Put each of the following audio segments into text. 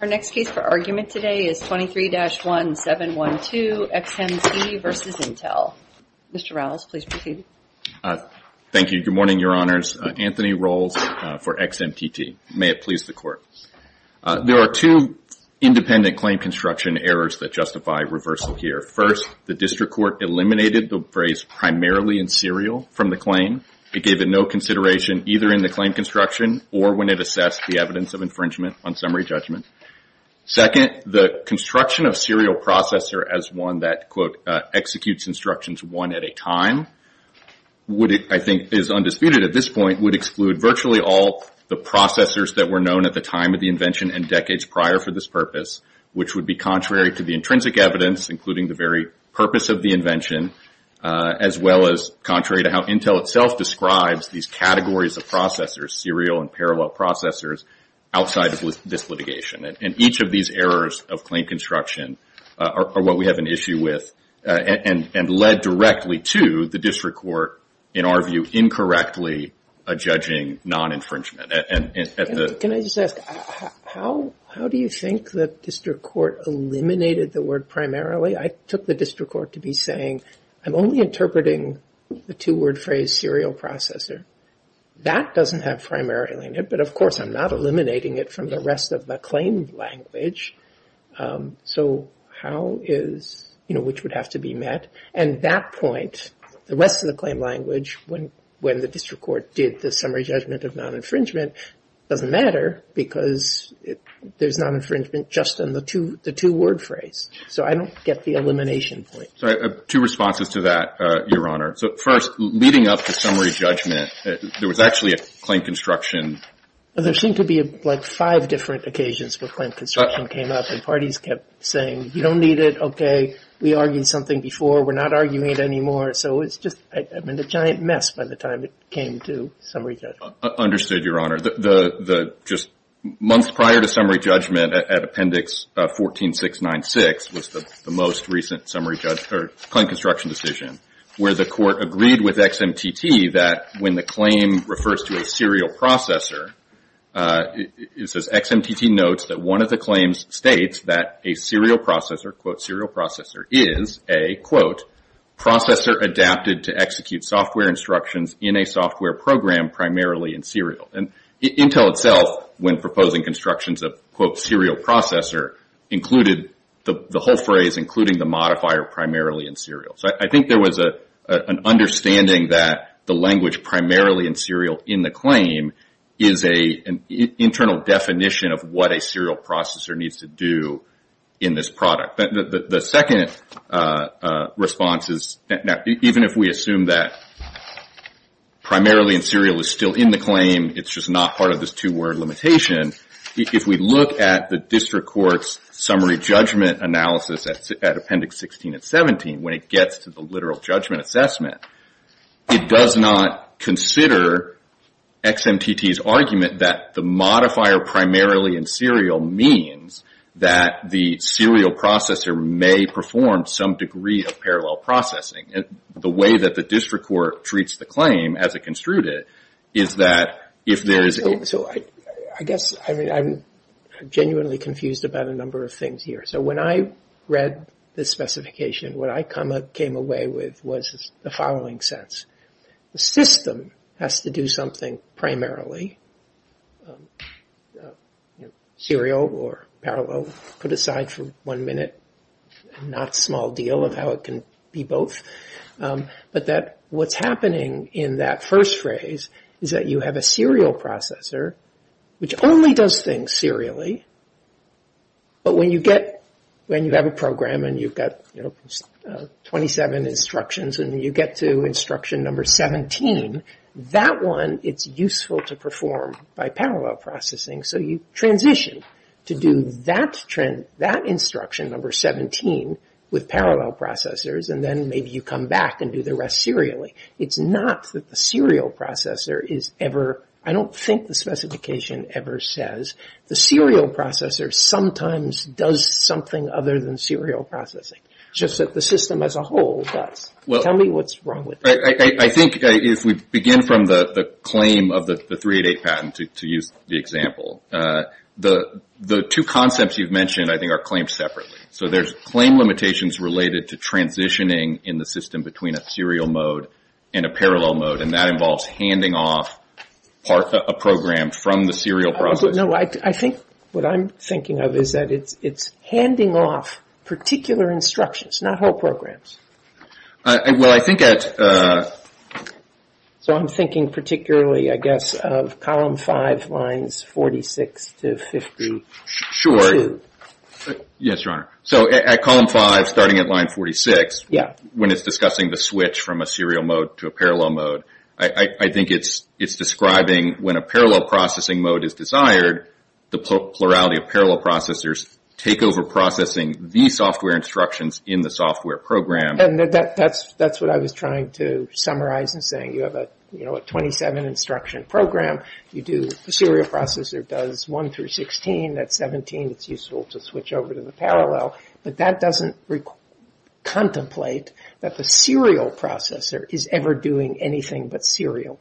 Our next case for argument today is 23-1712 XMT versus Intel. Mr. Rowles, please proceed. Thank you. Good morning, Your Honors. Anthony Rowles for XMTT. May it please the Court. There are two independent claim construction errors that justify reversal here. First, the District Court eliminated the phrase primarily in serial from the claim. It gave it no consideration either in the claim construction or when it assessed the evidence of infringement on summary judgment. Second, the construction of serial processor as one that, quote, executes instructions one at a time, I think is undisputed at this point, would exclude virtually all the processors that were known at the time of the invention and decades prior for this purpose, which would be contrary to the intrinsic evidence, including the very purpose of the invention, as well as contrary to how Intel itself describes these categories of processors, serial and parallel processors, outside of this litigation. And each of these errors of claim construction are what we have an issue with and led directly to the District Court, in our view, incorrectly judging non-infringement. Can I just ask, how do you think the District Court eliminated the word primarily? I took the District Court to be saying, I'm only interpreting the two-word phrase serial processor. That doesn't have primarily in it, but of course I'm not eliminating it from the rest of the claim language. So how is, you know, which would have to be met? And that point, the rest of the claim language, when the District Court did the summary judgment of non-infringement, doesn't matter because there's non-infringement just in the two-word phrase. So I don't get the elimination point. Two responses to that, Your Honor. So first, leading up to summary judgment, there was actually a claim construction. There seemed to be like five different occasions where claim construction came up and parties kept saying, you don't need it, okay, we argued something before, we're not arguing it anymore. So it's just, I mean, a giant mess by the time it came to summary judgment. Understood, Your Honor. The just months prior to summary judgment at Appendix 14-696 was the most recent summary judgment, or claim construction decision, where the court agreed with XMTT that when the claim refers to a serial processor, it says, XMTT notes that one of the claims states that a serial processor, quote, serial processor, is a, quote, processor adapted to execute software instructions in a software program primarily in serial. And Intel itself, when proposing constructions of, quote, serial processor, included the whole phrase, including the modifier, primarily in serial. So I think there was an understanding that the language primarily in serial in the claim is an internal definition of what a serial processor needs to do in this product. The second response is, even if we assume that primarily in serial is still in the claim, it's just not part of this two-word limitation. If we look at the district court's summary judgment analysis at Appendix 16 and 17, when it gets to the literal judgment assessment, it does not consider XMTT's argument that the modifier primarily in serial means that the serial processor may perform some degree of parallel processing. The way that the district court treats the claim, as it construed it, is that if there is a... So I guess, I mean, I'm genuinely confused about a number of things here. So when I read this specification, what I came away with was the following sense. The system has to do something primarily. Serial or parallel, put aside for one minute, not a small deal of how it can be both. But that what's happening in that first phrase is that you have a serial processor, which only does things serially, but when you get, when you have a program and you've got 27 instructions and you get to instruction number 17, that one, it's useful to perform by parallel processing. So you transition to do that instruction number 17 with parallel processors, and then maybe you come back and do the rest serially. It's not that the serial processor is ever, I don't think the specification ever says, the serial processor is ever used for parallel processing. It's just that the system as a whole does. Tell me what's wrong with that. I think if we begin from the claim of the 388 patent, to use the example, the two concepts you've mentioned, I think, are claimed separately. So there's claim limitations related to transitioning in the system between a serial mode and a parallel mode, and that involves handing off part of a program from the serial processor. I think what I'm thinking of is that it's handing off particular instructions, not whole programs. Well, I think at... So I'm thinking particularly, I guess, of column 5, lines 46 to 52. Sure. Yes, Your Honor. So at column 5, starting at line 46, when it's discussing the switch from a serial mode to a parallel mode, I think it's describing when a parallel processing mode is desired, the plurality of parallel processors take over processing the software instructions in the software program. That's what I was trying to summarize in saying you have a 27 instruction program, you do the serial processor does 1 through 16, that's 17, it's useful to switch over to the parallel, but that doesn't contemplate that the serial processor is ever doing anything but serial.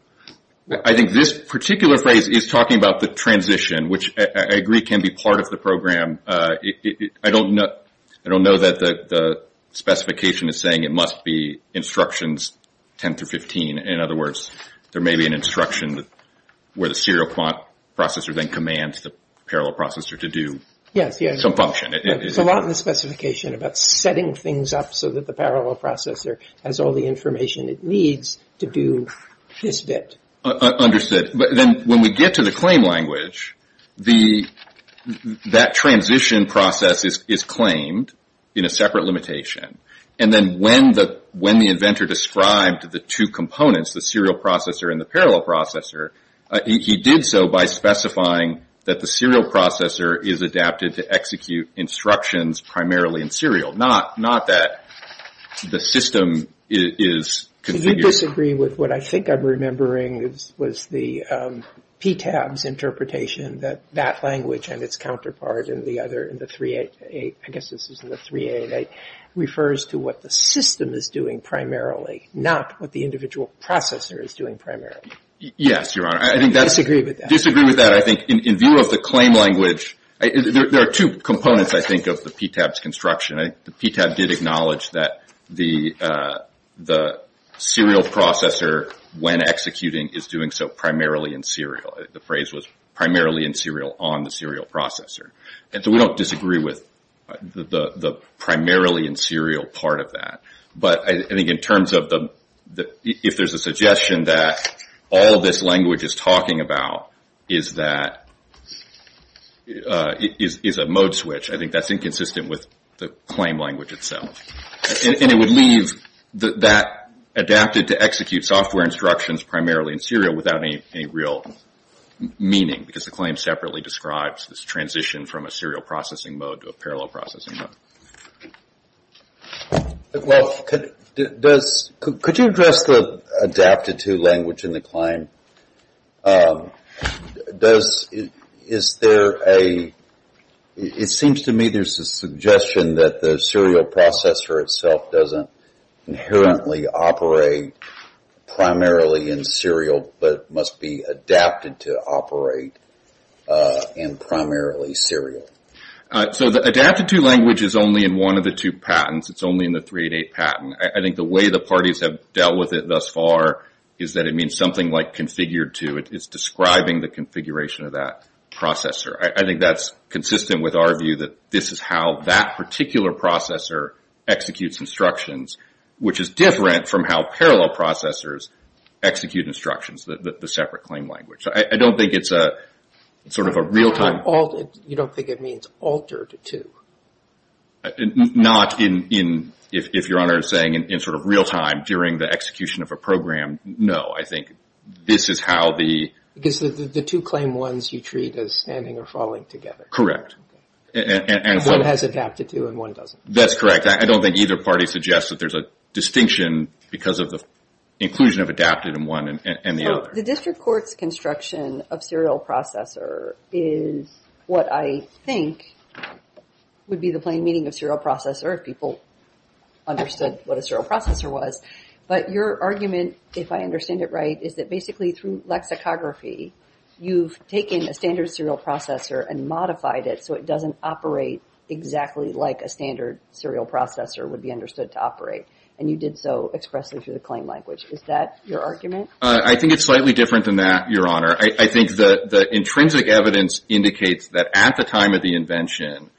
I think this particular phrase is talking about the transition, which I agree can be part of the program. I don't know that the specification is saying it must be instructions 10 through 15. In other words, there may be an instruction where the serial processor then commands the parallel processor to do some function. Yes. There's a lot in the specification about setting things up so that the parallel processor has all the information it needs to do this bit. Understood. But then when we get to the claim language, that transition process is claimed in a separate limitation. And then when the inventor described the two components, the serial processor and the parallel processor, he did so by specifying that the serial processor is adapted to execute instructions primarily in serial, not that the system is configured. Do you disagree with what I think I'm remembering was the PTAB's interpretation that that language and its counterpart in the 388, I guess this was in the 388, refers to what the system is doing primarily, not what the individual processor is doing primarily? Yes, Your Honor. I disagree with that. But I think in view of the claim language, there are two components, I think, of the PTAB's construction. The PTAB did acknowledge that the serial processor when executing is doing so primarily in serial. The phrase was primarily in serial on the serial processor. And so we don't disagree with the primarily in serial part of that. But I think in terms of if there's a suggestion that all this language is talking about is a mode switch, I think that's inconsistent with the claim language itself. And it would leave that adapted to execute software instructions primarily in serial without any real meaning because the claim separately describes this transition from a serial processing mode to a parallel Could you address the adapted to language in the claim? It seems to me there's a suggestion that the serial processor itself doesn't inherently operate primarily in serial but must be adapted to operate in primarily serial. So the adapted to language is only in one of the two patents. It's only in the 388 patent. I think the way the parties have dealt with it thus far is that it means something like configured to. It's describing the configuration of that processor. I think that's consistent with our view that this is how that particular processor executes instructions, which is different from how parallel processors execute instructions, the separate claim language. I don't think it's a real-time You don't think it means altered to? Not in, if Your Honor is saying, in sort of real-time during the execution of a program. No, I think this is how the Because the two claim ones you treat as standing or falling together. Correct. One has adapted to and one doesn't. That's correct. I don't think either party suggests that there's a distinction because of the inclusion of adapted in one and the other. The district court's construction of serial processor is what I think would be the plain meaning of serial processor if people understood what a serial processor was. But your argument, if I understand it right, is that basically through lexicography, you've taken a standard serial processor and modified it so it doesn't operate exactly like a standard serial processor would be understood to operate. And you did so expressly through the claim language. Is that your argument? I think it's slightly different than that, Your Honor. I think the intrinsic evidence indicates that at the time of the invention,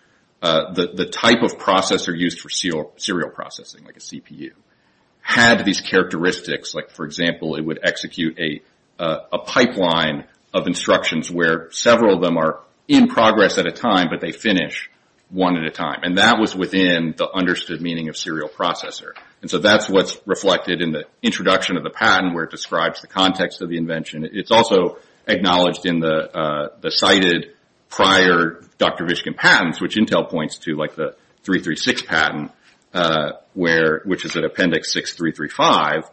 the type of processor used for serial processing, like a CPU, had these characteristics. For example, it would execute a pipeline of instructions where several of them are in progress at a time, but they finish one at a time. And that was within the understood meaning of serial processor. And so that's what's reflected in the introduction of the patent where it describes the context of the invention. It's also acknowledged in the cited prior Dr. Vishkin patents, which Intel points to, like the 336 patent, which is at appendix 6, 335,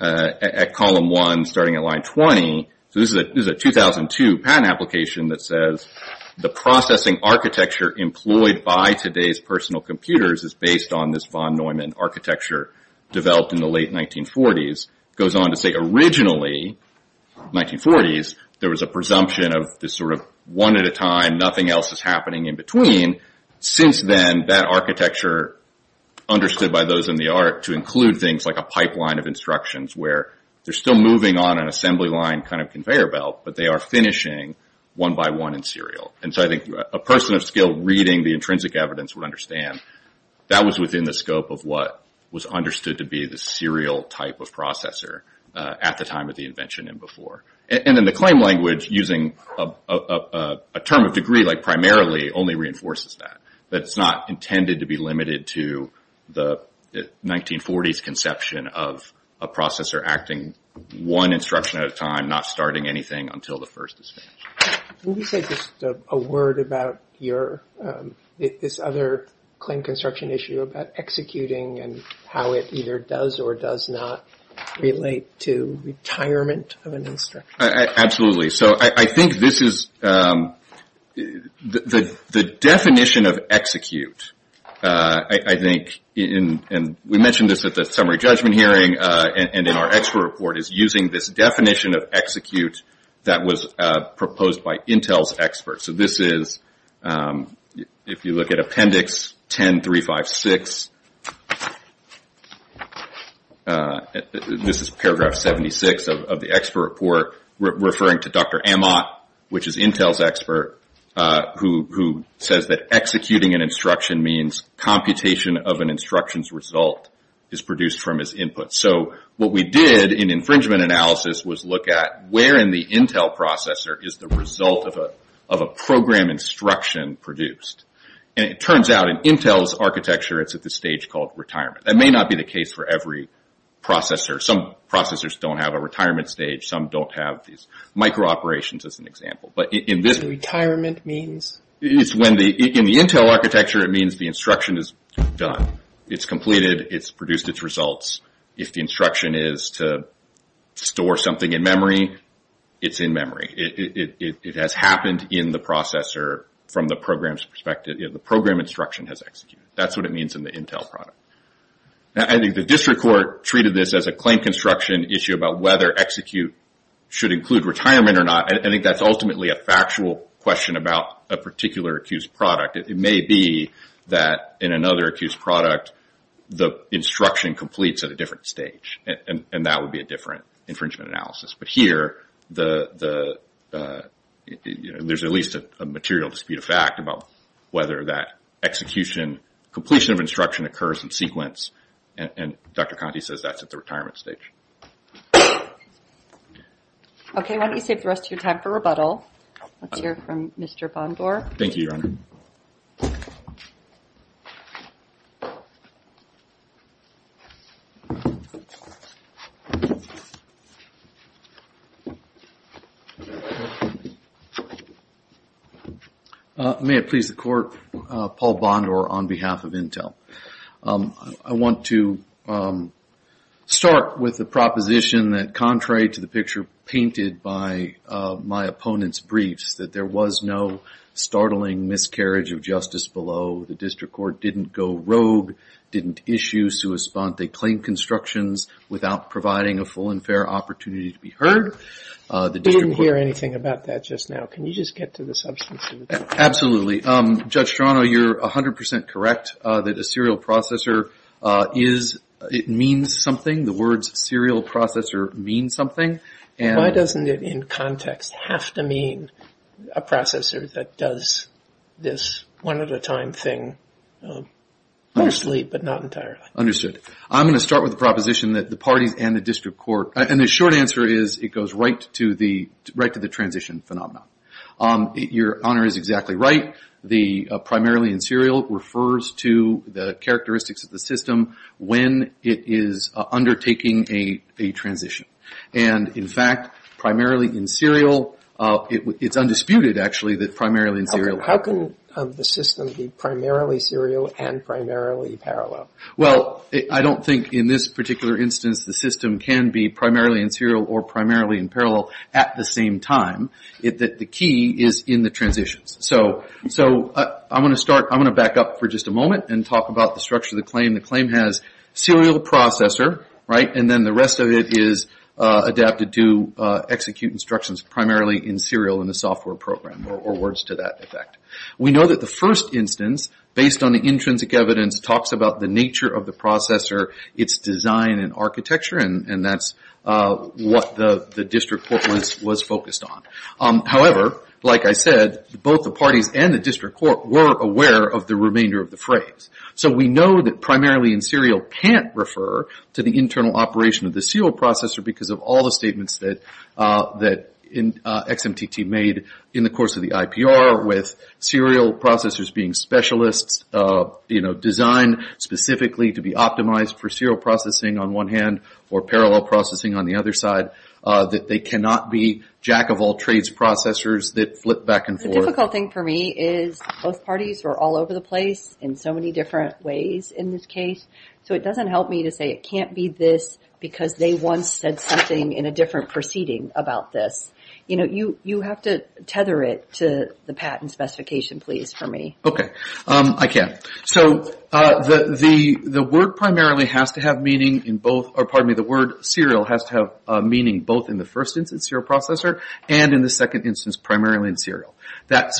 at column 1 starting at line 20. This is a 2002 patent application that says the processing architecture employed by today's personal computers is based on this Von Neumann architecture developed in the late 1940s. It goes on to say originally 1940s, there was a presumption of this sort of one at a time, nothing else is happening in between. Since then, that architecture understood by those in the art to include things like a pipeline of instructions where they're still moving on an assembly line kind of conveyor belt, but they are finishing one by one in serial. And so I think a person of skill reading the intrinsic evidence would understand that was within the scope of what was understood to be the serial type of processor at the time of the invention and before. And then the claim language using a term of degree, like primarily, only reinforces that. That it's not intended to be limited to the 1940s conception of a processor acting one instruction at a time, not starting anything until the first is finished. Can you say just a word about your, this other claim construction issue about executing and how it either does or does not relate to retirement of an instruction? Absolutely. So I think this is, the definition of execute, I think, and we mentioned this at the summary judgment hearing and in our expert report, is using this definition of execute that was proposed by Intel's experts. So this is, if you look at appendix 10356, this is paragraph 76 of the expert report referring to Dr. Amat, which is Intel's expert, who says that executing an instruction means computation of an instruction's result is produced from its input. So what we did in infringement analysis was look at where in the Intel processor is the result of a program instruction produced. And it turns out in Intel's architecture it's at the stage called retirement. That may not be the case for every processor. Some processors don't have a retirement stage. Some don't have these micro-operations as an example. But in this... So retirement means? It's when the, in the Intel architecture it means the instruction is done. It's completed. It's produced its results. If the instruction is to store something in memory, it's in memory. It has happened in the processor from the program's perspective. The program instruction has executed. That's what it means in the Intel product. I think the district court treated this as a claim construction issue about whether execute should include retirement or not. I think that's ultimately a factual question about a particular accused product. It may be that in another accused product the instruction completes at a different stage. And that would be a different infringement analysis. But here there's at least a material dispute of fact about whether that execution, completion of instruction occurs in sequence. And Dr. Conti says that's at the retirement stage. Okay. Why don't you save the rest of your time for rebuttal. Let's hear from Mr. Bondor. Thank you, Your Honor. May it please the court, Paul Bondor on behalf of Intel. I want to start with the proposition that contrary to the picture painted by my opponent's briefs that there was no startling miscarriage of justice below. The district court didn't go rogue, didn't issue sue a spunt. They claimed constructions without providing a full and fair opportunity to be heard. I didn't hear anything about that just now. Can you just get to the substance of it? Absolutely. Judge Strano, you're 100% correct that a serial processor is, it means something. The words serial processor mean something. Why doesn't it in context have to mean a processor that does this one at a time thing mostly but not entirely? Understood. I'm going to start with the proposition that the parties and the district court, and the short answer is it goes right to the transition phenomenon. Your Honor is exactly right. The primarily in serial refers to the characteristics of the system when it is undertaking a transition. And in fact, primarily in serial, it's undisputed actually that primarily in How can the system be primarily serial and primarily parallel? Well, I don't think in this particular instance the system can be primarily in serial or primarily in parallel at the same time. The key is in the transitions. So I'm going to back up for just a moment and talk about the structure of the claim. The claim has serial processor, and then the rest of it is adapted to execute instructions primarily in serial in the software program or words to that effect. We know that the first instance, based on the intrinsic evidence, talks about the nature of the processor, its design and architecture, and that's what the district court was focused on. However, like I said, both the parties and the district court were aware of the remainder of the phrase. So we know that primarily in serial can't refer to the internal operation of the serial processor because of all the statements that XMTT made in the course of the IPR with serial processors being specialists designed specifically to be optimized for serial processing on one hand or parallel processing on the other side, that they cannot be jack-of-all-trades processors that flip back and forth. The difficult thing for me is both parties were all over the place in so many different ways in this case. So it doesn't help me to say it can't be this because they once said something in a different proceeding about this. You have to tether it to the patent specification please for me. Okay, I can. So the word serial has to have meaning both in the first instance serial processor and in the second instance primarily in serial. That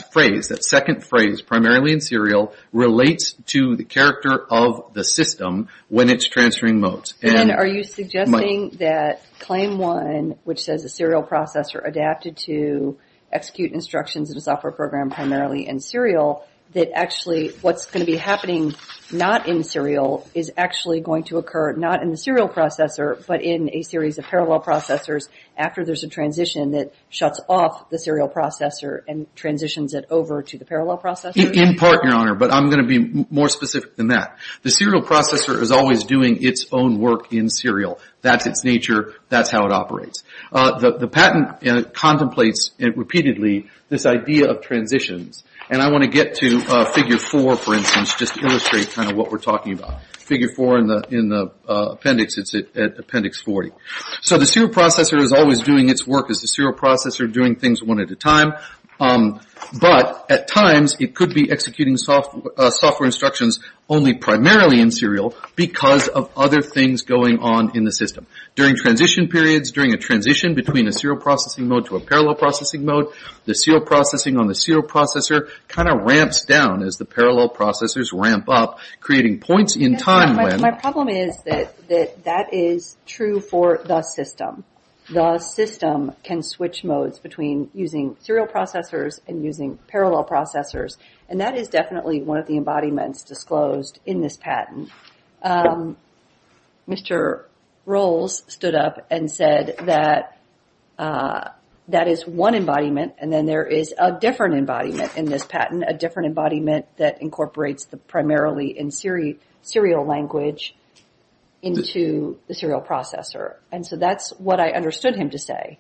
second phrase primarily in serial relates to the character of the system when it's transferring modes. Are you suggesting that claim one, which says a serial processor adapted to execute instructions in a software program primarily in serial, that actually what's going to be happening not in serial is actually going to occur not in the serial processor but in a series of parallel processors after there's a transition that shuts off the serial processor and transitions it over to the parallel processor? In part, Your Honor, but I'm going to be more specific than that. The serial processor is always doing its own work in serial. That's its nature. That's how it operates. The patent contemplates it repeatedly, this idea of transitions, and I want to get to figure four for instance just to illustrate kind of what we're talking about. Figure four in the appendix, it's at appendix 40. So the serial processor is always doing its work as the serial processor doing things one at a time, but at times it could be executing software instructions only primarily in serial because of other things going on in the system. During transition periods, during a transition between a serial processing mode to a parallel processing mode, the serial processing on the serial processor kind of ramps down as the parallel processors ramp up, creating points in time when... My problem is that that is true for the system. The system can switch modes between using serial processors and using parallel processors, and that is definitely one of the embodiments disclosed in this patent. Mr. Rowles stood up and said that that is one embodiment, and then there is a different embodiment in this patent, a different embodiment that incorporates the primarily in serial language into the serial processor, and so that's what I understood him to say.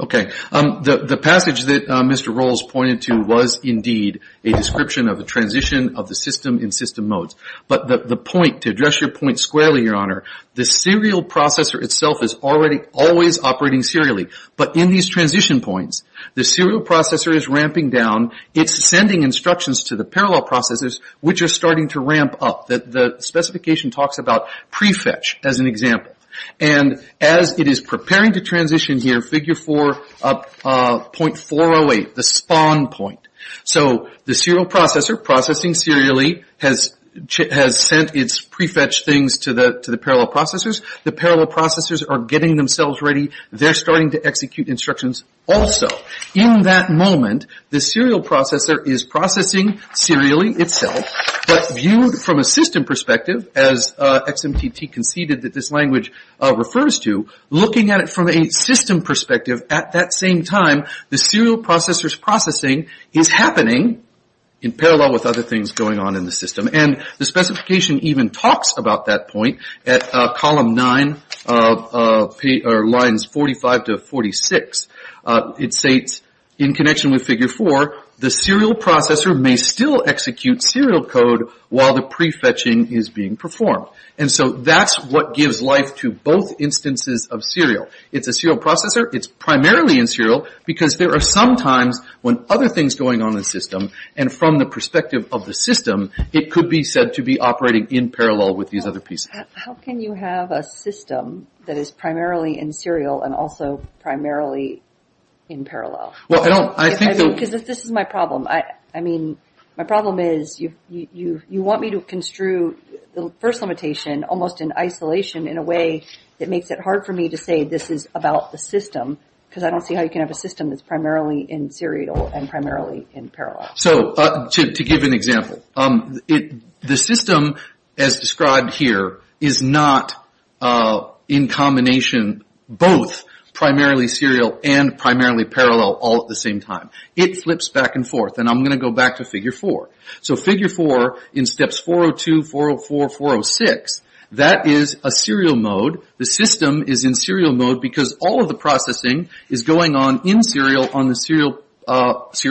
Okay. The passage that Mr. Rowles pointed to was indeed a description of the transition of the system in system modes, but the point, to address your point squarely, Your Honor, the serial processor itself is always operating serially, but in these transition points, the serial processor is ramping down. It's sending instructions to the parallel processors which are starting to ramp up. The specification talks about prefetch as an example, and as it is preparing to transition here, figure 4.408, the spawn point. So the serial processor processing serially has sent its prefetch things to the parallel processors. The parallel processors are getting themselves ready. They're starting to execute instructions also. In that moment, the serial processor is processing serially itself, but viewed from a system perspective as XMTT conceded that this language refers to, looking at it from a system perspective, at that same time, the serial processor's processing is happening in parallel with other things going on in the system, and the specification even talks about that point at column 9, lines 45 to 46. It states, in connection with figure 4, the serial processor may still execute serial code while the prefetching is being performed, and so that's what gives life to both instances of serial. It's a serial processor. It's primarily in serial because there are some times when other things are going on in the system, and from the perspective of the system, it could be said to be operating in parallel with these other pieces. How can you have a system that is primarily in serial and also primarily in parallel? Well, I don't, I think that... Because this is my problem. I mean, my problem is you want me to construe the first limitation almost in isolation in a way that makes it hard for me to say this is about the system, because I don't see how you can have a system that's primarily in serial and primarily in So, to give an example, the system as described here is not in combination, both primarily serial and primarily parallel all at the same time. It flips back and forth, and I'm going to go back to figure 4. So, figure 4 in steps 402, 404, 406, that is a serial mode. The system is in serial mode because all of the processing is going on in serial on the serial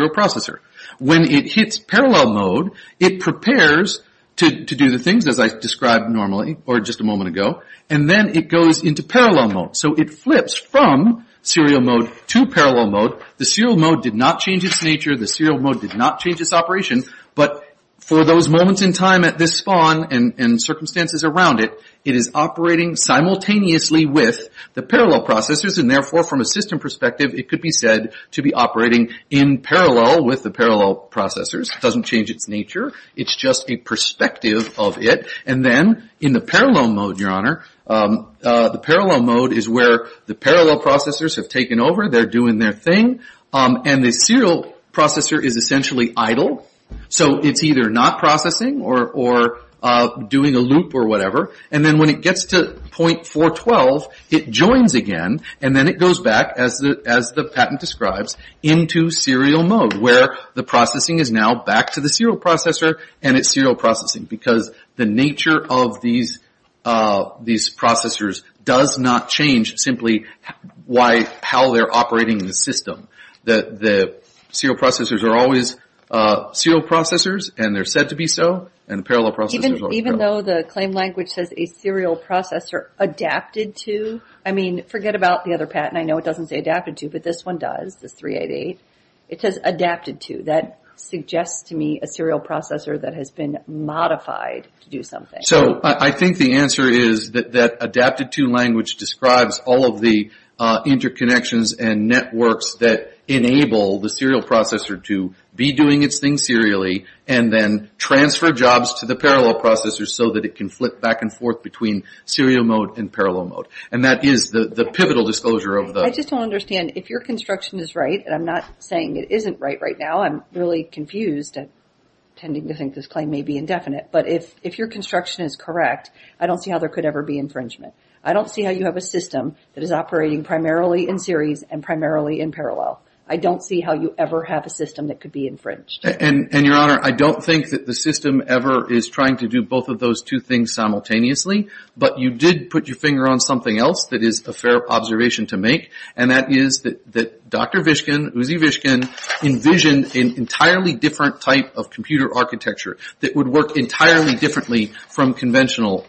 processor. When it hits parallel mode, it prepares to do the things as I described normally or just a moment ago, and then it goes into parallel mode. So, it flips from serial mode to parallel mode. The serial mode did not change its nature. The serial mode did not change its operation, but for those moments in time at this spawn and circumstances around it, it is operating simultaneously with the parallel processors, and therefore, from a system perspective, it could be said to be operating in parallel with the parallel processors. It doesn't change its nature. It's just a perspective of it, and then in the parallel mode, the parallel mode is where the parallel processors have taken over. They're doing their thing, and the serial processor is essentially idle. So, it's either not processing or doing a loop or whatever, and then when it gets to point 412, it joins again, and then it goes back, as the patent describes, into serial mode, where the processing is now back to the serial processor, and it's serial processing, because the nature of these processors does not change simply how they're operating in the system. The serial processors are always serial processors, and they're said to be so, and the parallel processors are parallel. Even though the claim language says a serial processor adapted to, I mean, forget about the other patent. I know it doesn't say adapted to, but this one does, this 388. It says adapted to. That suggests to me a serial processor that has been modified to do something. So, I think the answer is that adapted to language describes all of the interconnections and networks that enable the serial processor to be doing its thing serially, and then transfer jobs to the parallel processors so that it can flip back and forth between serial mode and parallel mode, and that is the pivotal disclosure of those. I just don't understand. If your construction is right, and I'm not saying it isn't right now, I'm really confused and tending to think this claim may be indefinite, but if your construction is correct, I don't see how there could ever be infringement. I don't see how you have a system that is operating primarily in series and primarily in parallel. I don't see how you ever have a system that could be infringed. And, Your Honor, I don't think that the system ever is trying to do both of those two things simultaneously, but you did put your finger on something else that is a fair observation to make, and that is that Dr. Vishkin, Uzi Vishkin, envisioned an entirely different type of computer architecture that would work entirely differently from conventional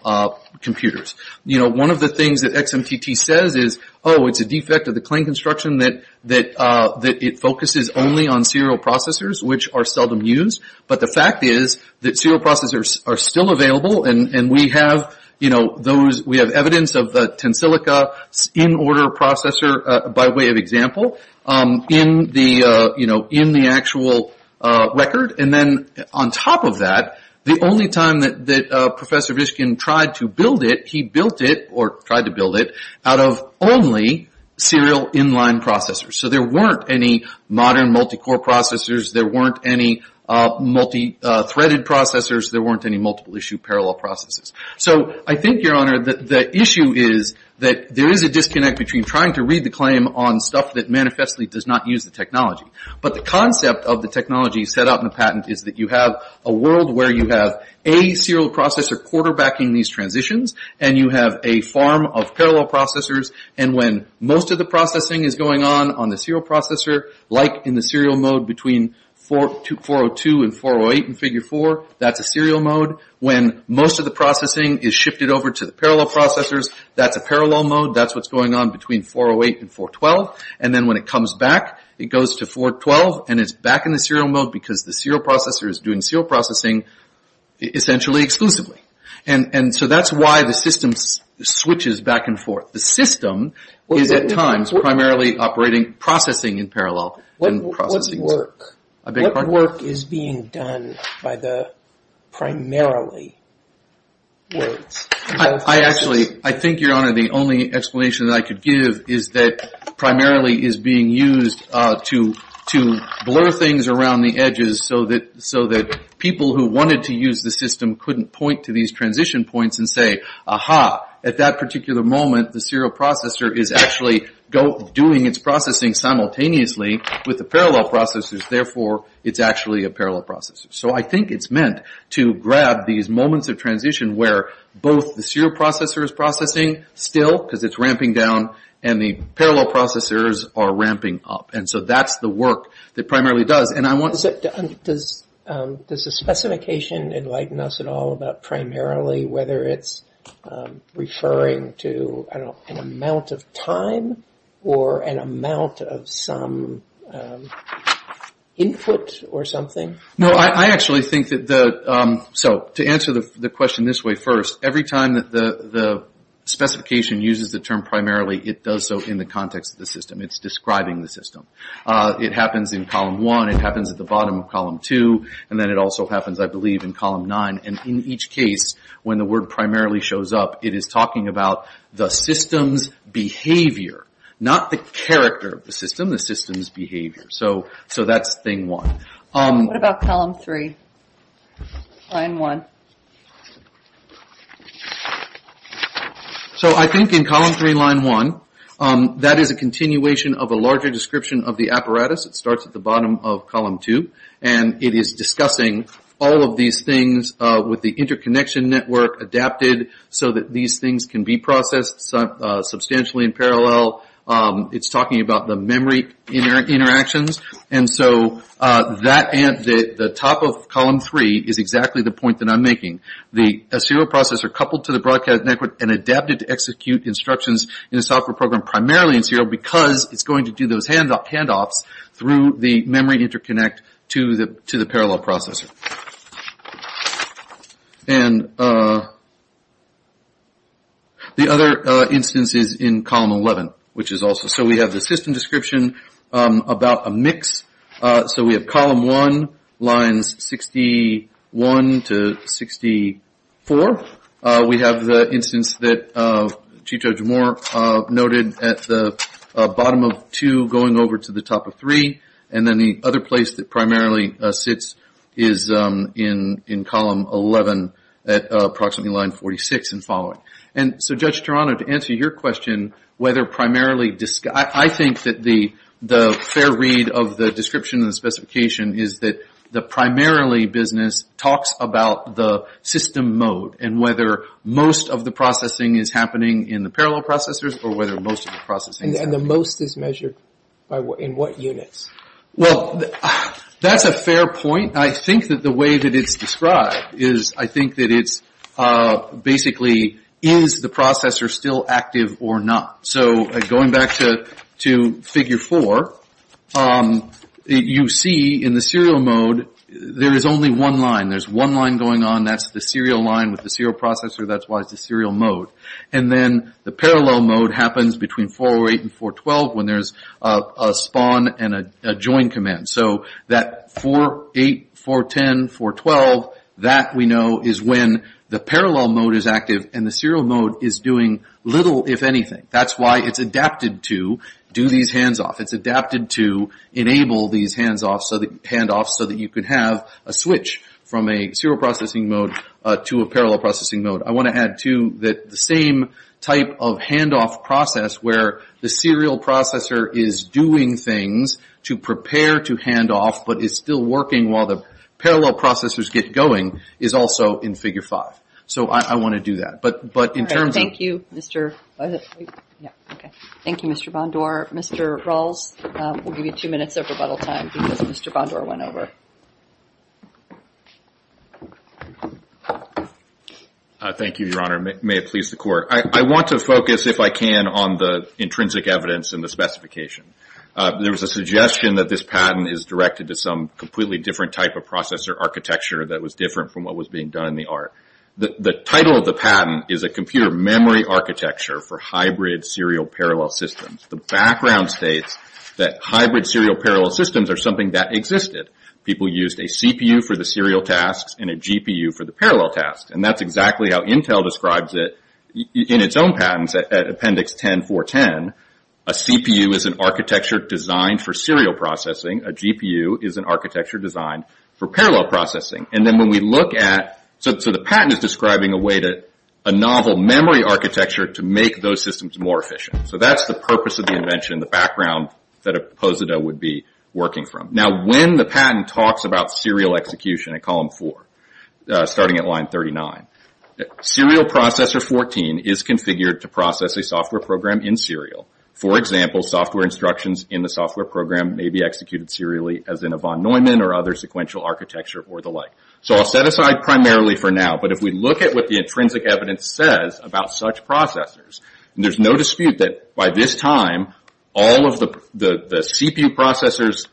computers. One of the things that XMTT says is, oh, it's a defect of the claim construction that it focuses only on serial processors, which are seldom used, but the fact is that serial processors are still available, and we have evidence of the tensilica in-order processor, by way of example, in the actual record. And then, on top of that, the only time that Professor Vishkin tried to build it, he built it, or tried to build it, out of only serial in-line processors. So there weren't any modern multi-core processors. There weren't any multi-threaded processors. There weren't any multiple-issue parallel processors. So I think, Your Honor, that the issue is that there is a disconnect between trying to read the claim on stuff that manifestly does not use the technology, but the concept of the technology set out in the patent is that you have a world where you have a serial processor quarterbacking these transitions, and you have a farm of parallel processors, and when most of the processing is going on on the serial processor, like in the serial mode between 402 and 408 in Figure 4, that's a serial mode. When most of the processing is shifted over to the parallel processors, that's a parallel mode. That's what's going on between 408 and 412. And then when it comes back, it goes to 412, and it's back in the serial mode because the serial processor is doing serial processing essentially exclusively. And so that's why the system switches back and forth. The system is, at times, primarily operating processing in parallel. What work is being done by the primarily? I think, Your Honor, the only explanation that I could give is that primarily is being used to blur things around the edges so that people who wanted to use the system couldn't point to these transition points and say, aha, at that particular moment, the serial processing is processing simultaneously with the parallel processors. Therefore, it's actually a parallel processor. So I think it's meant to grab these moments of transition where both the serial processor is processing still, because it's ramping down, and the parallel processors are ramping up. And so that's the work that primarily does. And I want to... Does the specification enlighten us at all about primarily, whether it's referring to an amount of time or an amount of some input or something? No, I actually think that the... So to answer the question this way first, every time that the specification uses the term primarily, it does so in the context of the system. It's describing the system. It happens in column one. It happens at the bottom of column two. And then it also happens, I believe, in column nine. And in each case, when the word primarily shows up, it is talking about the system's behavior, not the character of the system, the system's behavior. So that's thing one. What about column three, line one? So I think in column three, line one, that is a continuation of a larger description of the apparatus. It starts at the bottom of column two. And it is discussing all of these things with the interconnection network adapted so that these things can be processed substantially in parallel. It's talking about the memory interactions. And so that... The top of column three is exactly the point that I'm making. The serial processor coupled to the broadcast network and adapted to execute instructions in a software program primarily in serial because it's going to do those handoffs through the memory interconnect to the parallel processor. And the other instance is in column 11, which is also... So we have the system description about a mix. So we have column one, lines 61 to 64. We have the instance that Chico Jamor noted at the bottom of two going over to the top of three. And then the other place that primarily sits is in column 11 at approximately line 46 and following. And so, Judge Toronto, to answer your question, whether primarily... I think that the fair read of the description and the specification is that the primarily business talks about the system mode and whether most of the processing is happening in the parallel processors or whether most of the processing is happening... Well, that's a fair point. I think that the way that it's described is... I think that it's basically, is the processor still active or not? So going back to figure four, you see in the serial mode, there is only one line. There's one line going on. That's the serial line with the serial processor. That's why it's the serial mode. And then the parallel mode happens between 408 and 412 when there's a spawn and a join command. So that 48, 410, 412, that we know is when the parallel mode is active and the serial mode is doing little if anything. That's why it's adapted to do these hands-offs. It's adapted to enable these hands-offs so that you could have a switch from a serial processing mode to a parallel processing mode. I want to add, too, that the same type of hand-off process where the serial processor is doing things to prepare to hand-off but is still working while the parallel processors get going is also in figure five. So I want to do that. But in terms of... Thank you, Mr. Bondor. Mr. Rawls, we'll give you two minutes of rebuttal time because Mr. Bondor went over. Thank you, Your Honor. May it please the court. I want to focus, if I can, on the intrinsic evidence in the specification. There was a suggestion that this patent is directed to some completely different type of processor architecture that was different from what was being done in the art. The title of the patent is a computer memory architecture for hybrid serial parallel systems. The background states that hybrid serial parallel systems are something that existed. People used a CPU for the serial tasks and a GPU for the parallel tasks. That's exactly how Intel describes it in its own patents at Appendix 10.4.10. A CPU is an architecture designed for serial processing. A GPU is an architecture designed for parallel processing. The patent is describing a novel memory architecture to make those systems more efficient. That's the purpose of the invention, the background that Posido would be working from. When the patent talks about serial execution in column 4, starting at line 39, serial processor 14 is configured to process a software program in serial. For example, software instructions in the software program may be executed serially as in a von Neumann or other sequential architecture or the like. I'll set aside primarily for now. If we look at what the intrinsic evidence says about such processors, there's no dispute that by this time all of the CPU processors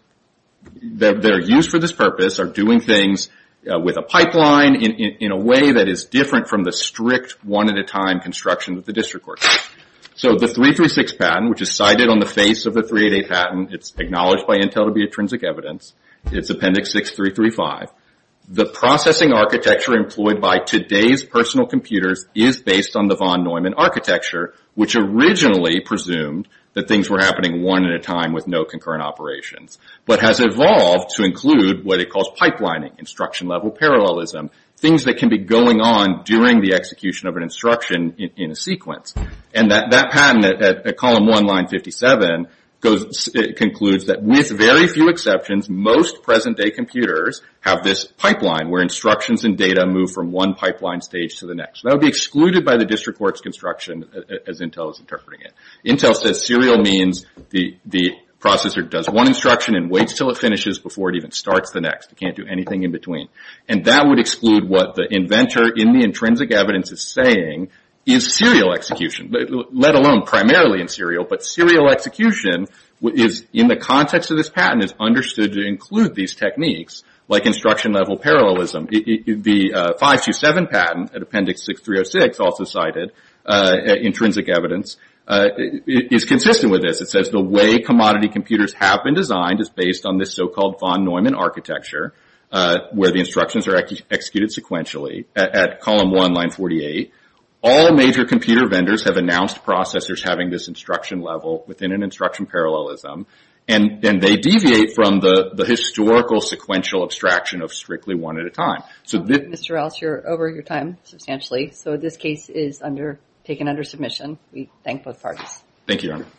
that are used for this purpose are doing things with a pipeline in a way that is different from the strict one at a time construction with the district court. The 336 patent, which is cited on the face of the 388 patent, it's acknowledged by Intel to be intrinsic evidence. It's Appendix 6.335. The processing architecture employed by today's personal computers is based on the von Neumann architecture, which originally presumed that things were happening one at a time with no concurrent operations, but has evolved to include what it calls pipelining, instruction level parallelism, things that can be going on during the execution of an instruction in a sequence. That patent at column 1, line 57, concludes that with very few exceptions, most present day computers have this pipeline where instructions and data move from one pipeline stage to the next. That would be excluded by the district court's construction as Intel is interpreting it. Intel says serial means the processor does one instruction and waits until it finishes before it even starts the next. It can't do anything in between. That would exclude what the inventor in the intrinsic evidence is saying is serial execution, let alone primarily in serial, but serial execution is in the context of this patent is understood to include these techniques, like instruction level parallelism. The 527 patent at Appendix 6.306, also cited intrinsic evidence, is consistent with this. It says the way commodity computers have been designed is based on this so-called von Neumann architecture, where the instructions are executed sequentially. At column 1, line 48, all major computer vendors have announced processors having this instruction level within an instruction parallelism, and they deviate from the historical sequential abstraction of strictly one at a time. So Mr. Rouse, you're over your time substantially. So this case is taken under submission. We thank both parties.